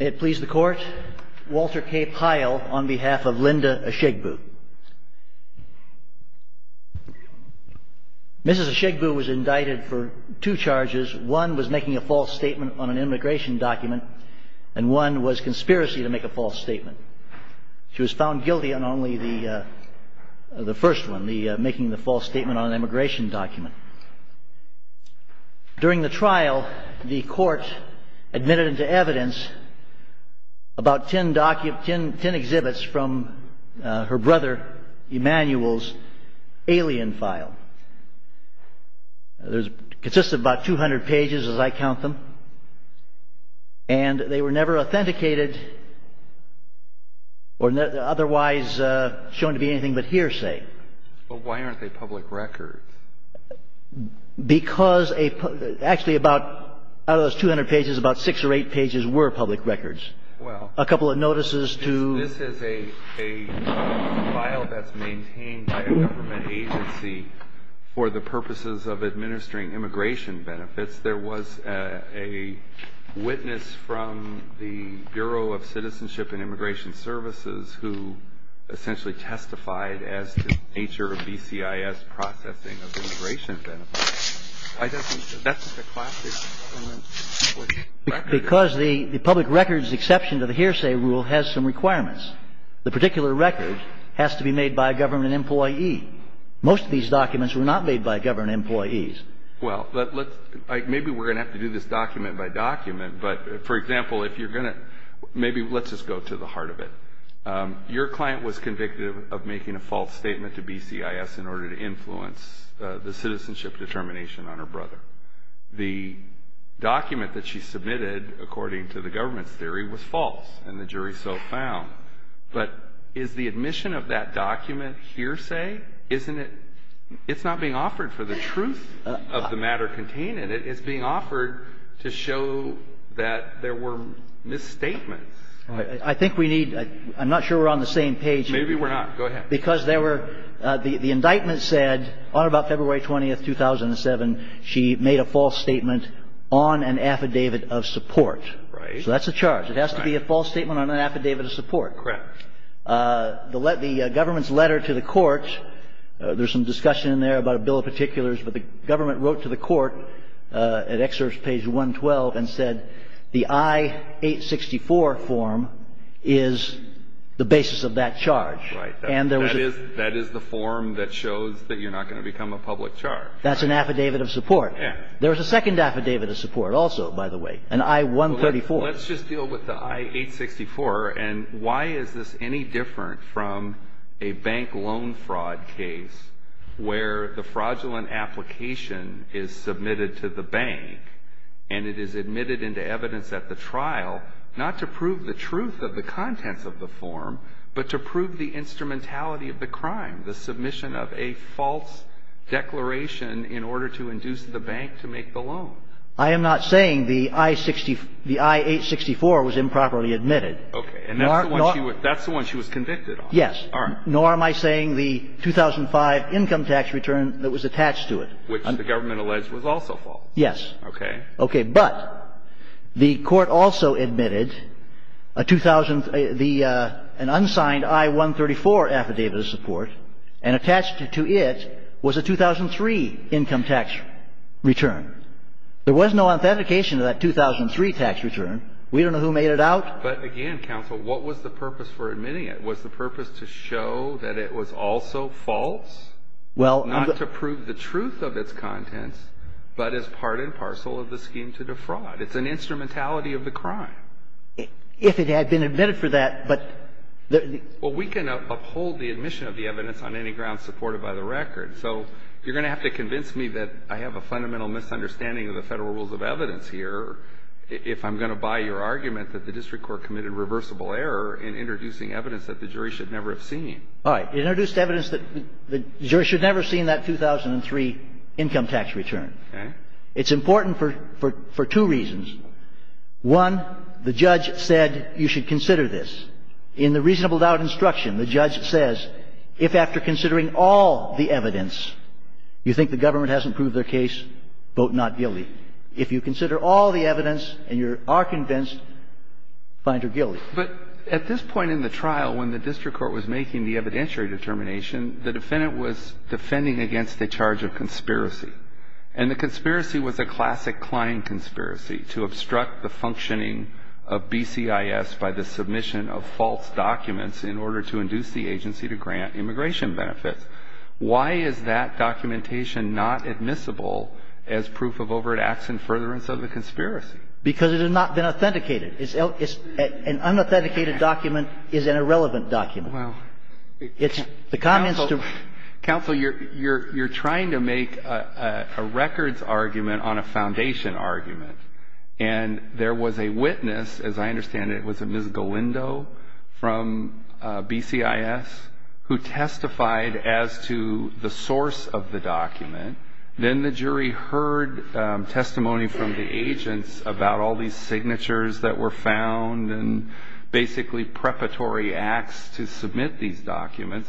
May it please the court, Walter K. Pyle on behalf of Linda Ashiegbu. Mrs. Ashiegbu was indicted for two charges, one was making a false statement on an immigration document and one was conspiracy to make a false statement. She was found guilty on only the first one, making the false statement on an immigration document. During the trial, the court admitted into evidence about ten exhibits from her brother Emanuel's alien file. It consisted of about 200 pages as I count them. And they were never authenticated or otherwise shown to be anything but hearsay. But why aren't they public records? Because actually out of those 200 pages, about six or eight pages were public records. A couple of notices to... This is a file that's maintained by a government agency for the purposes of administering immigration benefits. There was a witness from the Bureau of Citizenship and Immigration Services who essentially testified as to the nature of BCIS processing of immigration benefits. That's a classic public record. Because the public records exception to the hearsay rule has some requirements. The particular record has to be made by a government employee. Most of these documents were not made by government employees. Well, maybe we're going to have to do this document by document. But, for example, if you're going to... Maybe let's just go to the heart of it. Your client was convicted of making a false statement to BCIS in order to influence the citizenship determination on her brother. The document that she submitted, according to the government's theory, was false. And the jury so found. But is the admission of that document hearsay? Isn't it... It's not being offered for the truth of the matter contained in it. It's being offered to show that there were misstatements. I think we need... I'm not sure we're on the same page. Maybe we're not. Go ahead. Because there were... The indictment said on about February 20, 2007, she made a false statement on an affidavit of support. Right. So that's a charge. It has to be a false statement on an affidavit of support. Correct. The government's letter to the court, there's some discussion in there about a bill of particulars. But the government wrote to the court at excerpt page 112 and said the I-864 form is the basis of that charge. Right. And there was a... That is the form that shows that you're not going to become a public charge. That's an affidavit of support. Yeah. There was a second affidavit of support also, by the way, an I-134. Well, let's just deal with the I-864. And why is this any different from a bank loan fraud case where the fraudulent application is submitted to the bank and it is admitted into evidence at the trial, not to prove the truth of the contents of the form, but to prove the instrumentality of the crime, the submission of a false declaration in order to induce the bank to make the loan? I am not saying the I-864 was improperly admitted. Okay. And that's the one she was convicted on. Yes. All right. Nor am I saying the 2005 income tax return that was attached to it. Which the government alleged was also false. Yes. Okay. Okay. But the Court also admitted an unsigned I-134 affidavit of support and attached to it was a 2003 income tax return. There was no authentication of that 2003 tax return. We don't know who made it out. But again, counsel, what was the purpose for admitting it? Was the purpose to show that it was also false? Not to prove the truth of its contents, but as part and parcel of the scheme to defraud. It's an instrumentality of the crime. If it had been admitted for that, but the — Well, we can uphold the admission of the evidence on any grounds supported by the record. So you're going to have to convince me that I have a fundamental misunderstanding of the Federal rules of evidence here if I'm going to buy your argument that the district court committed reversible error in introducing evidence that the jury should never have seen. All right. It introduced evidence that the jury should never have seen that 2003 income tax return. Okay. It's important for two reasons. One, the judge said you should consider this. In the reasonable doubt instruction, the judge says if after considering all the evidence you think the government hasn't proved their case, vote not guilty. If you consider all the evidence and you are convinced, find her guilty. But at this point in the trial, when the district court was making the evidentiary determination, the defendant was defending against a charge of conspiracy. And the conspiracy was a classic Klein conspiracy to obstruct the functioning of BCIS by the submission of false documents in order to induce the agency to grant immigration benefits. Why is that documentation not admissible as proof of overt acts in furtherance of the conspiracy? Because it has not been authenticated. It's an unauthenticated document is an irrelevant document. It's the comments to ---- Counsel, you're trying to make a records argument on a foundation argument. And there was a witness, as I understand it, was it Ms. Galindo from BCIS, and the jury heard testimony from the agents about all these signatures that were found and basically preparatory acts to submit these documents.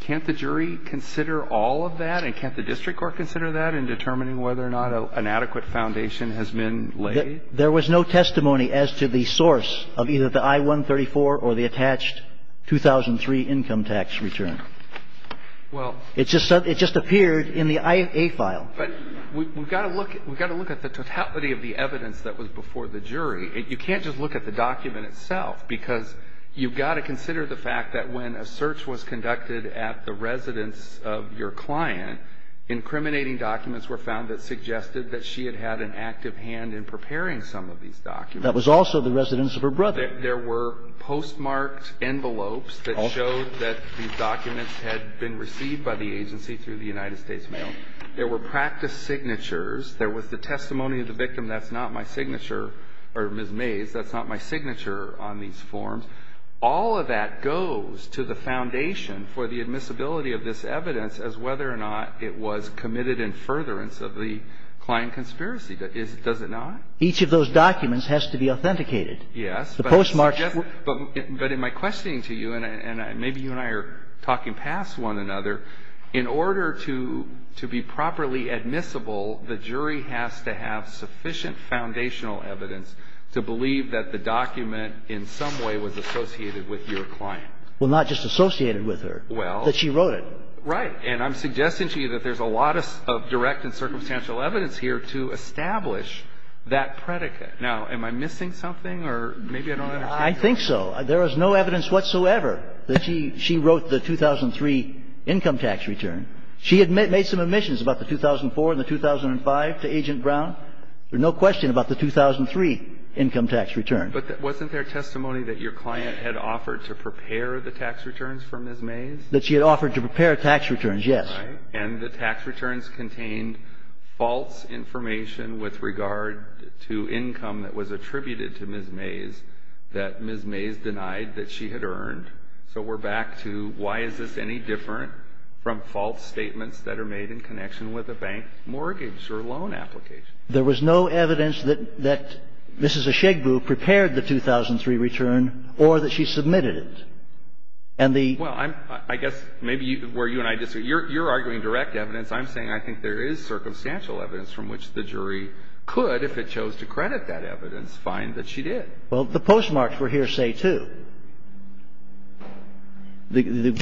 Can't the jury consider all of that? And can't the district court consider that in determining whether or not an adequate foundation has been laid? There was no testimony as to the source of either the I-134 or the attached 2003 income tax return. Well ---- It just appeared in the IA file. But we've got to look at the totality of the evidence that was before the jury. You can't just look at the document itself, because you've got to consider the fact that when a search was conducted at the residence of your client, incriminating documents were found that suggested that she had had an active hand in preparing That was also the residence of her brother. There were postmarked envelopes that showed that these documents had been received by the agency through the United States Mail. There were practice signatures. There was the testimony of the victim, that's not my signature, or Ms. Mays, that's not my signature on these forms. All of that goes to the foundation for the admissibility of this evidence as whether or not it was committed in furtherance of the client conspiracy. Does it not? Each of those documents has to be authenticated. Yes. The postmarked ---- But in my questioning to you, and maybe you and I are talking past one another, in order to be properly admissible, the jury has to have sufficient foundational evidence to believe that the document in some way was associated with your client. Well, not just associated with her. Well ---- That she wrote it. Right. And I'm suggesting to you that there's a lot of direct and circumstantial evidence here to establish that predicate. Now, am I missing something or maybe I don't understand? I think so. There is no evidence whatsoever that she wrote the 2003 income tax return. She had made some admissions about the 2004 and the 2005 to Agent Brown. There's no question about the 2003 income tax return. But wasn't there testimony that your client had offered to prepare the tax returns for Ms. Mays? That she had offered to prepare tax returns, yes. Right. And the tax returns contained false information with regard to income that was attributed to Ms. Mays that Ms. Mays denied that she had earned. So we're back to why is this any different from false statements that are made in connection with a bank mortgage or loan application? There was no evidence that Mrs. Ashegbu prepared the 2003 return or that she submitted it. And the ---- Well, I guess maybe where you and I disagree, you're arguing direct evidence. I'm saying I think there is circumstantial evidence from which the jury could, if it chose to credit that evidence, find that she did. Well, the postmarks were hearsay, too. The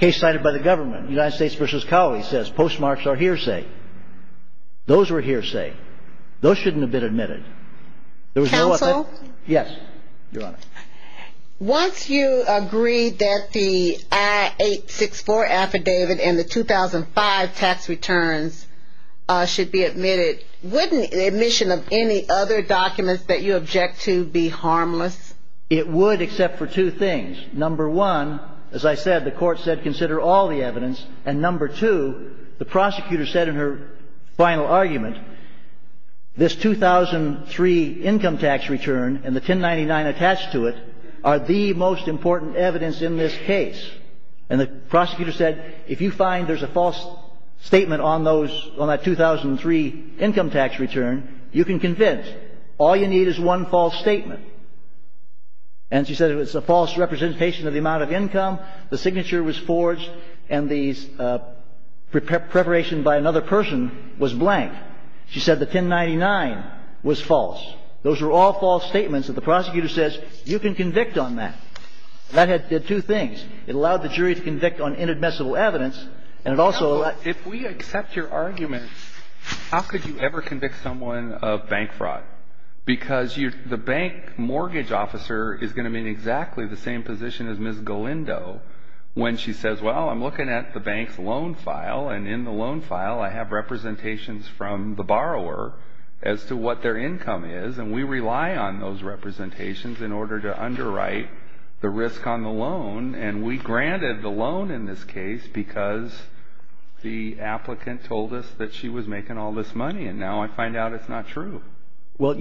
case cited by the government, United States v. Cowley, says postmarks are hearsay. Those were hearsay. Those shouldn't have been admitted. Counsel? Yes, Your Honor. Once you agree that the I-864 affidavit and the 2005 tax returns should be admitted, wouldn't admission of any other documents that you object to be harmless? It would except for two things. Number one, as I said, the court said consider all the evidence. And number two, the prosecutor said in her final argument, this 2003 income tax return and the 1099 attached to it are the most important evidence in this case. And the prosecutor said if you find there's a false statement on that 2003 income tax return, you can convince. All you need is one false statement. And she said it was a false representation of the amount of income, the signature was forged, and the preparation by another person was blank. She said the 1099 was false. Those were all false statements. And the prosecutor says you can convict on that. That had two things. It allowed the jury to convict on inadmissible evidence. And it also allowed. If we accept your argument, how could you ever convict someone of bank fraud? Because the bank mortgage officer is going to be in exactly the same position as Ms. Galindo when she says, well, I'm looking at the bank's loan file, and in the loan file, I have representations from the borrower as to what their income is. And we rely on those representations in order to underwrite the risk on the loan. And we granted the loan in this case because the applicant told us that she was making all this money. And now I find out it's not true. Well,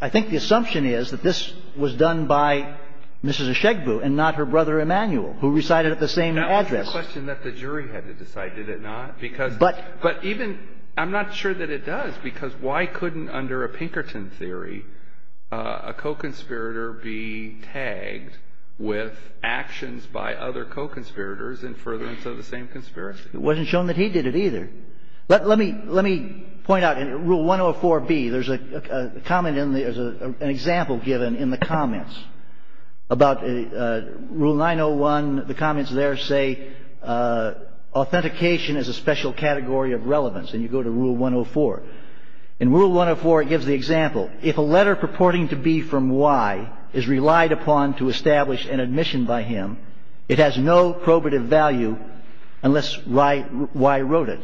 I think the assumption is that this was done by Mrs. Eshegbu and not her brother Emanuel, who recited at the same address. The question that the jury had to decide, did it not? But even – I'm not sure that it does, because why couldn't, under a Pinkerton theory, a co-conspirator be tagged with actions by other co-conspirators in furtherance of the same conspiracy? It wasn't shown that he did it either. Let me point out in Rule 104B, there's a comment in the – there's an example where authentication is a special category of relevance. And you go to Rule 104. In Rule 104, it gives the example. If a letter purporting to be from Y is relied upon to establish an admission by him, it has no probative value unless Y wrote it.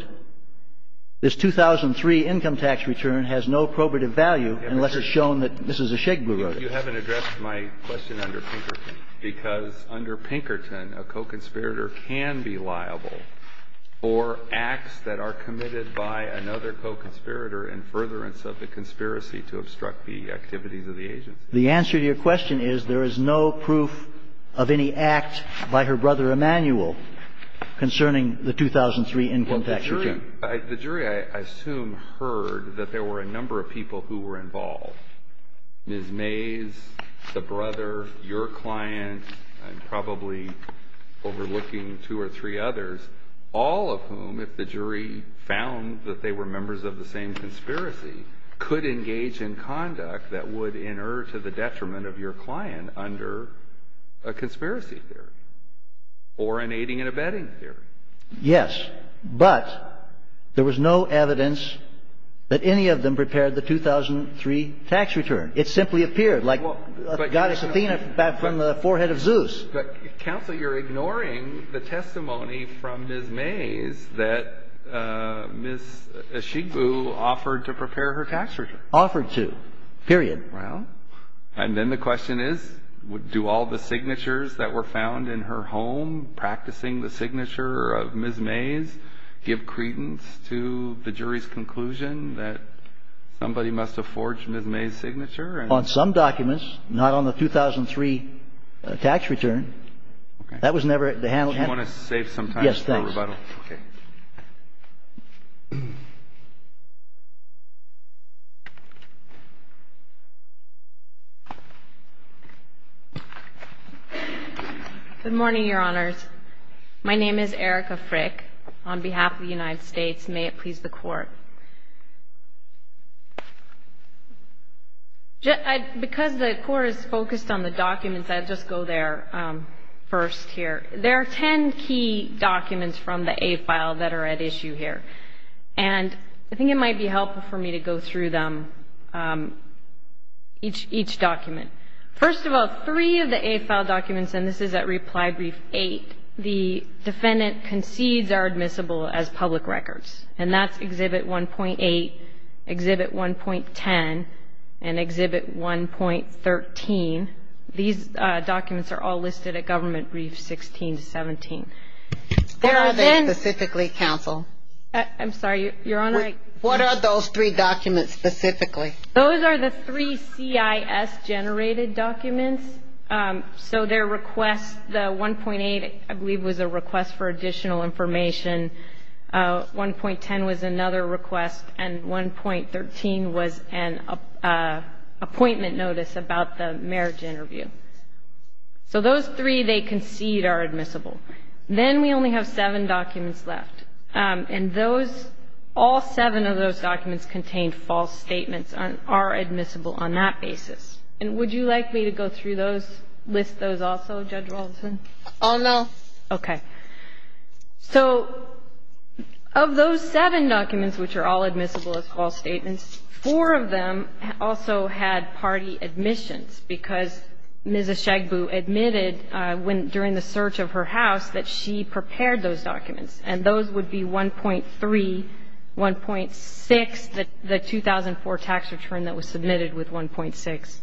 This 2003 income tax return has no probative value unless it's shown that Mrs. Eshegbu wrote it. But you haven't addressed my question under Pinkerton. Because under Pinkerton, a co-conspirator can be liable for acts that are committed by another co-conspirator in furtherance of the conspiracy to obstruct the activities of the agency. The answer to your question is there is no proof of any act by her brother Emanuel concerning the 2003 income tax return. Well, the jury – the jury, I assume, heard that there were a number of people who were involved. Ms. Mays, the brother, your client, and probably overlooking two or three others, all of whom, if the jury found that they were members of the same conspiracy, could engage in conduct that would inert to the detriment of your client under a conspiracy theory or an aiding and abetting theory. Yes. But there was no evidence that any of them prepared the 2003 tax return. It simply appeared, like Goddess Athena from the forehead of Zeus. But, Counsel, you're ignoring the testimony from Ms. Mays that Ms. Eshegbu offered to prepare her tax return. Offered to, period. Well, and then the question is, do all the signatures that were found in her home practicing the signature of Ms. Mays give credence to the jury's conclusion that somebody must have forged Ms. Mays' signature? On some documents, not on the 2003 tax return. Okay. That was never – they handled – Do you want to save some time for rebuttal? Yes, please. Okay. Good morning, Your Honors. My name is Erica Frick on behalf of the United States. May it please the Court. Because the Court is focused on the documents, I'll just go there first here. There are ten key documents from the A file that are at issue here. And I think it might be helpful for me to go through them, each document. First of all, three of the A file documents, and this is at reply brief eight, the defendant concedes are admissible as public records. And that's Exhibit 1.8, Exhibit 1.10, and Exhibit 1.13. These documents are all listed at government briefs 16 to 17. What are they specifically, counsel? I'm sorry, Your Honor. What are those three documents specifically? Those are the three CIS-generated documents. So their request, the 1.8, I believe, was a request for additional information. 1.10 was another request. And 1.13 was an appointment notice about the marriage interview. So those three they concede are admissible. Then we only have seven documents left. And those, all seven of those documents contain false statements and are admissible on that basis. And would you like me to go through those, list those also, Judge Walterson? Oh, no. Okay. So of those seven documents, which are all admissible as false statements, four of them also had party admissions because Ms. Eshagbu admitted during the search of her house that she prepared those documents. And those would be 1.3, 1.6, the 2004 tax return that was submitted with 1.6.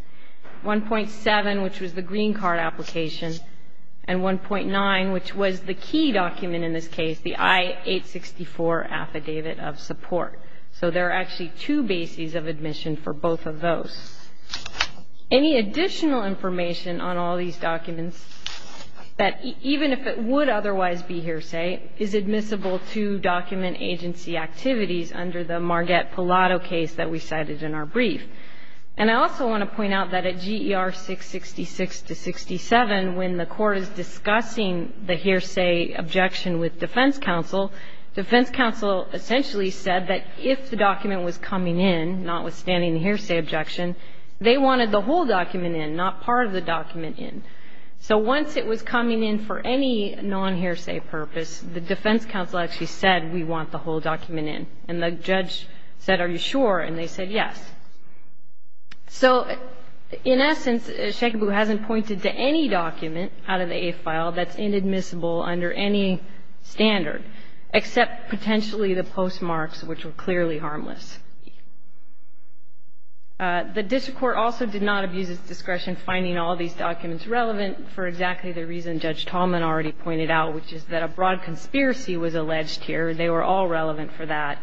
1.7, which was the green card application. And 1.9, which was the key document in this case, the I-864 Affidavit of Support. So there are actually two bases of admission for both of those. Any additional information on all these documents that, even if it would otherwise be hearsay, is admissible to document agency activities under the Marget Pilato case that we cited in our brief. And I also want to point out that at GER 666-67, when the Court is discussing the hearsay objection with defense counsel, defense counsel essentially said that if the document was coming in, notwithstanding the hearsay objection, they wanted the whole document in, not part of the document in. So once it was coming in for any non-hearsay purpose, the defense counsel actually said, we want the whole document in. And the judge said, are you sure? And they said yes. So in essence, Eshagbu hasn't pointed to any document out of the Eighth File that's any standard, except potentially the postmarks, which were clearly harmless. The district court also did not abuse its discretion finding all these documents relevant for exactly the reason Judge Tallman already pointed out, which is that a broad conspiracy was alleged here. They were all relevant for that.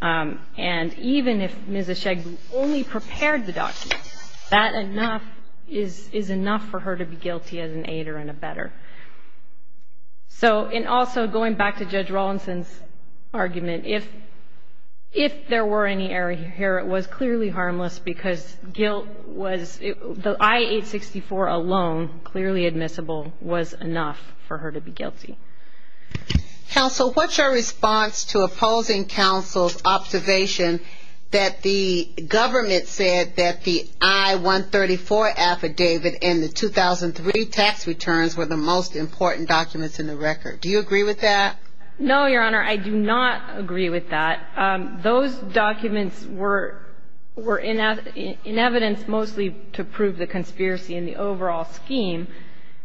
And even if Ms. Eshagbu only prepared the documents, that enough is enough for her to be guilty as an aider and a better. So, and also going back to Judge Rawlinson's argument, if there were any error here, it was clearly harmless because guilt was, the I-864 alone, clearly admissible, was enough for her to be guilty. Counsel, what's your response to opposing counsel's observation that the government said that the I-134 affidavit and the 2003 tax returns were the most important documents in the record? Do you agree with that? No, Your Honor. I do not agree with that. Those documents were in evidence mostly to prove the conspiracy in the overall scheme.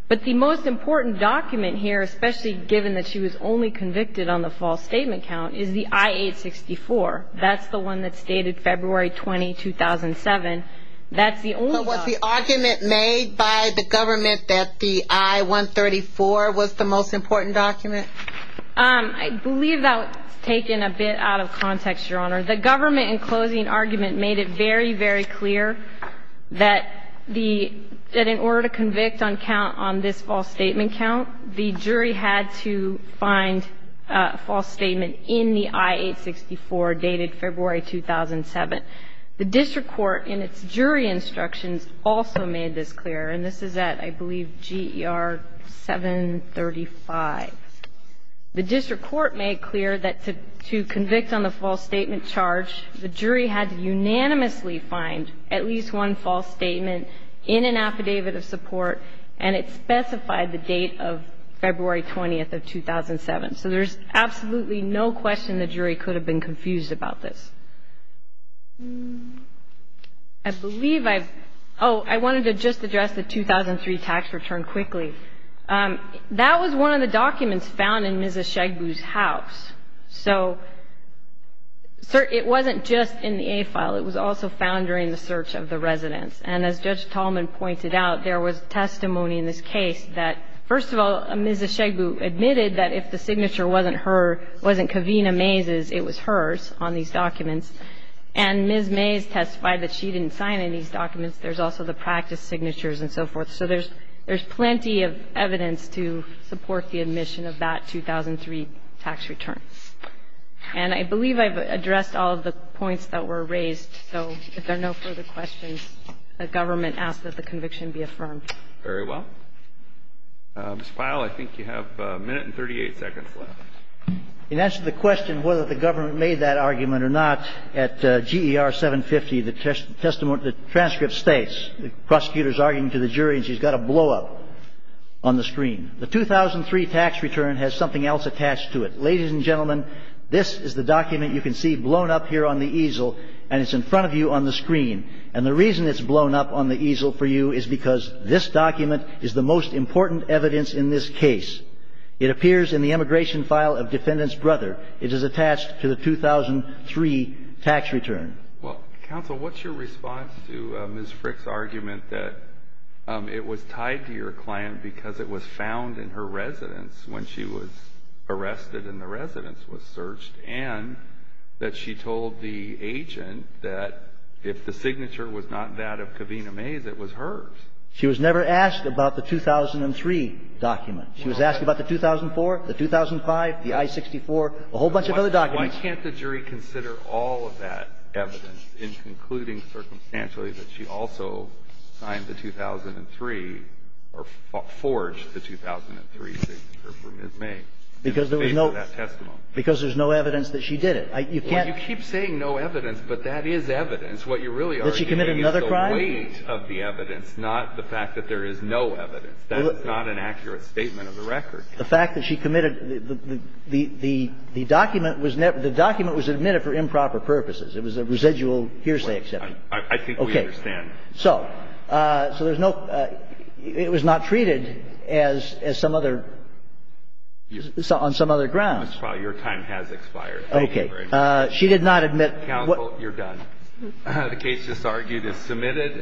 But the most important document here, especially given that she was only convicted on the false statement count, is the I-864. That's the one that's dated February 20, 2007. That's the only one. But was the argument made by the government that the I-134 was the most important document? I believe that was taken a bit out of context, Your Honor. The government in closing argument made it very, very clear that the, that in order to convict on count on this false statement count, the jury had to find a false statement in the I-864 dated February 2007. The district court in its jury instructions also made this clear. And this is at, I believe, GER 735. The district court made clear that to convict on the false statement charge, the jury had to unanimously find at least one false statement in an affidavit of support, and it specified the date of February 20 of 2007. So there's absolutely no question the jury could have been confused about this. I believe I've – oh, I wanted to just address the 2003 tax return quickly. That was one of the documents found in Mrs. Shegbu's house. So it wasn't just in the A file. It was also found during the search of the residence. And as Judge Tallman pointed out, there was testimony in this case that, first of all, Mrs. Shegbu admitted that if the signature wasn't her, wasn't Kavina Mays's, it was hers on these documents. And Ms. Mays testified that she didn't sign any of these documents. There's also the practice signatures and so forth. So there's plenty of evidence to support the admission of that 2003 tax return. And I believe I've addressed all of the points that were raised. So if there are no further questions, the government asks that the conviction be affirmed. Very well. Mr. Pyle, I think you have a minute and 38 seconds left. In answer to the question whether the government made that argument or not, at GER 750, the transcript states, the prosecutor is arguing to the jury, and she's got a blowup on the screen. The 2003 tax return has something else attached to it. Ladies and gentlemen, this is the document you can see blown up here on the easel, and it's in front of you on the screen. And the reason it's blown up on the easel for you is because this document is the most important evidence in this case. It appears in the immigration file of defendant's brother. It is attached to the 2003 tax return. Well, counsel, what's your response to Ms. Frick's argument that it was tied to your client because it was found in her residence when she was arrested and the residence was searched, and that she told the agent that if the signature was not that of Kavina Mays, it was hers? She was never asked about the 2003 document. She was asked about the 2004, the 2005, the I-64, a whole bunch of other documents. Why can't the jury consider all of that evidence in concluding circumstantially that she also signed the 2003 or forged the 2003 signature for Ms. Mays in favor of that testimony? Because there was no evidence that she did it. You can't keep saying no evidence, but that is evidence. What you really are doing is the weight of the evidence, not the fact that there is no evidence. That is not an accurate statement of the record. The fact that she committed the document was never – the document was admitted for improper purposes. It was a residual hearsay exception. I think we understand. Okay. So there's no – it was not treated as some other – on some other grounds. Your time has expired. Okay. She did not admit – Counsel, you're done. The case just argued is submitted.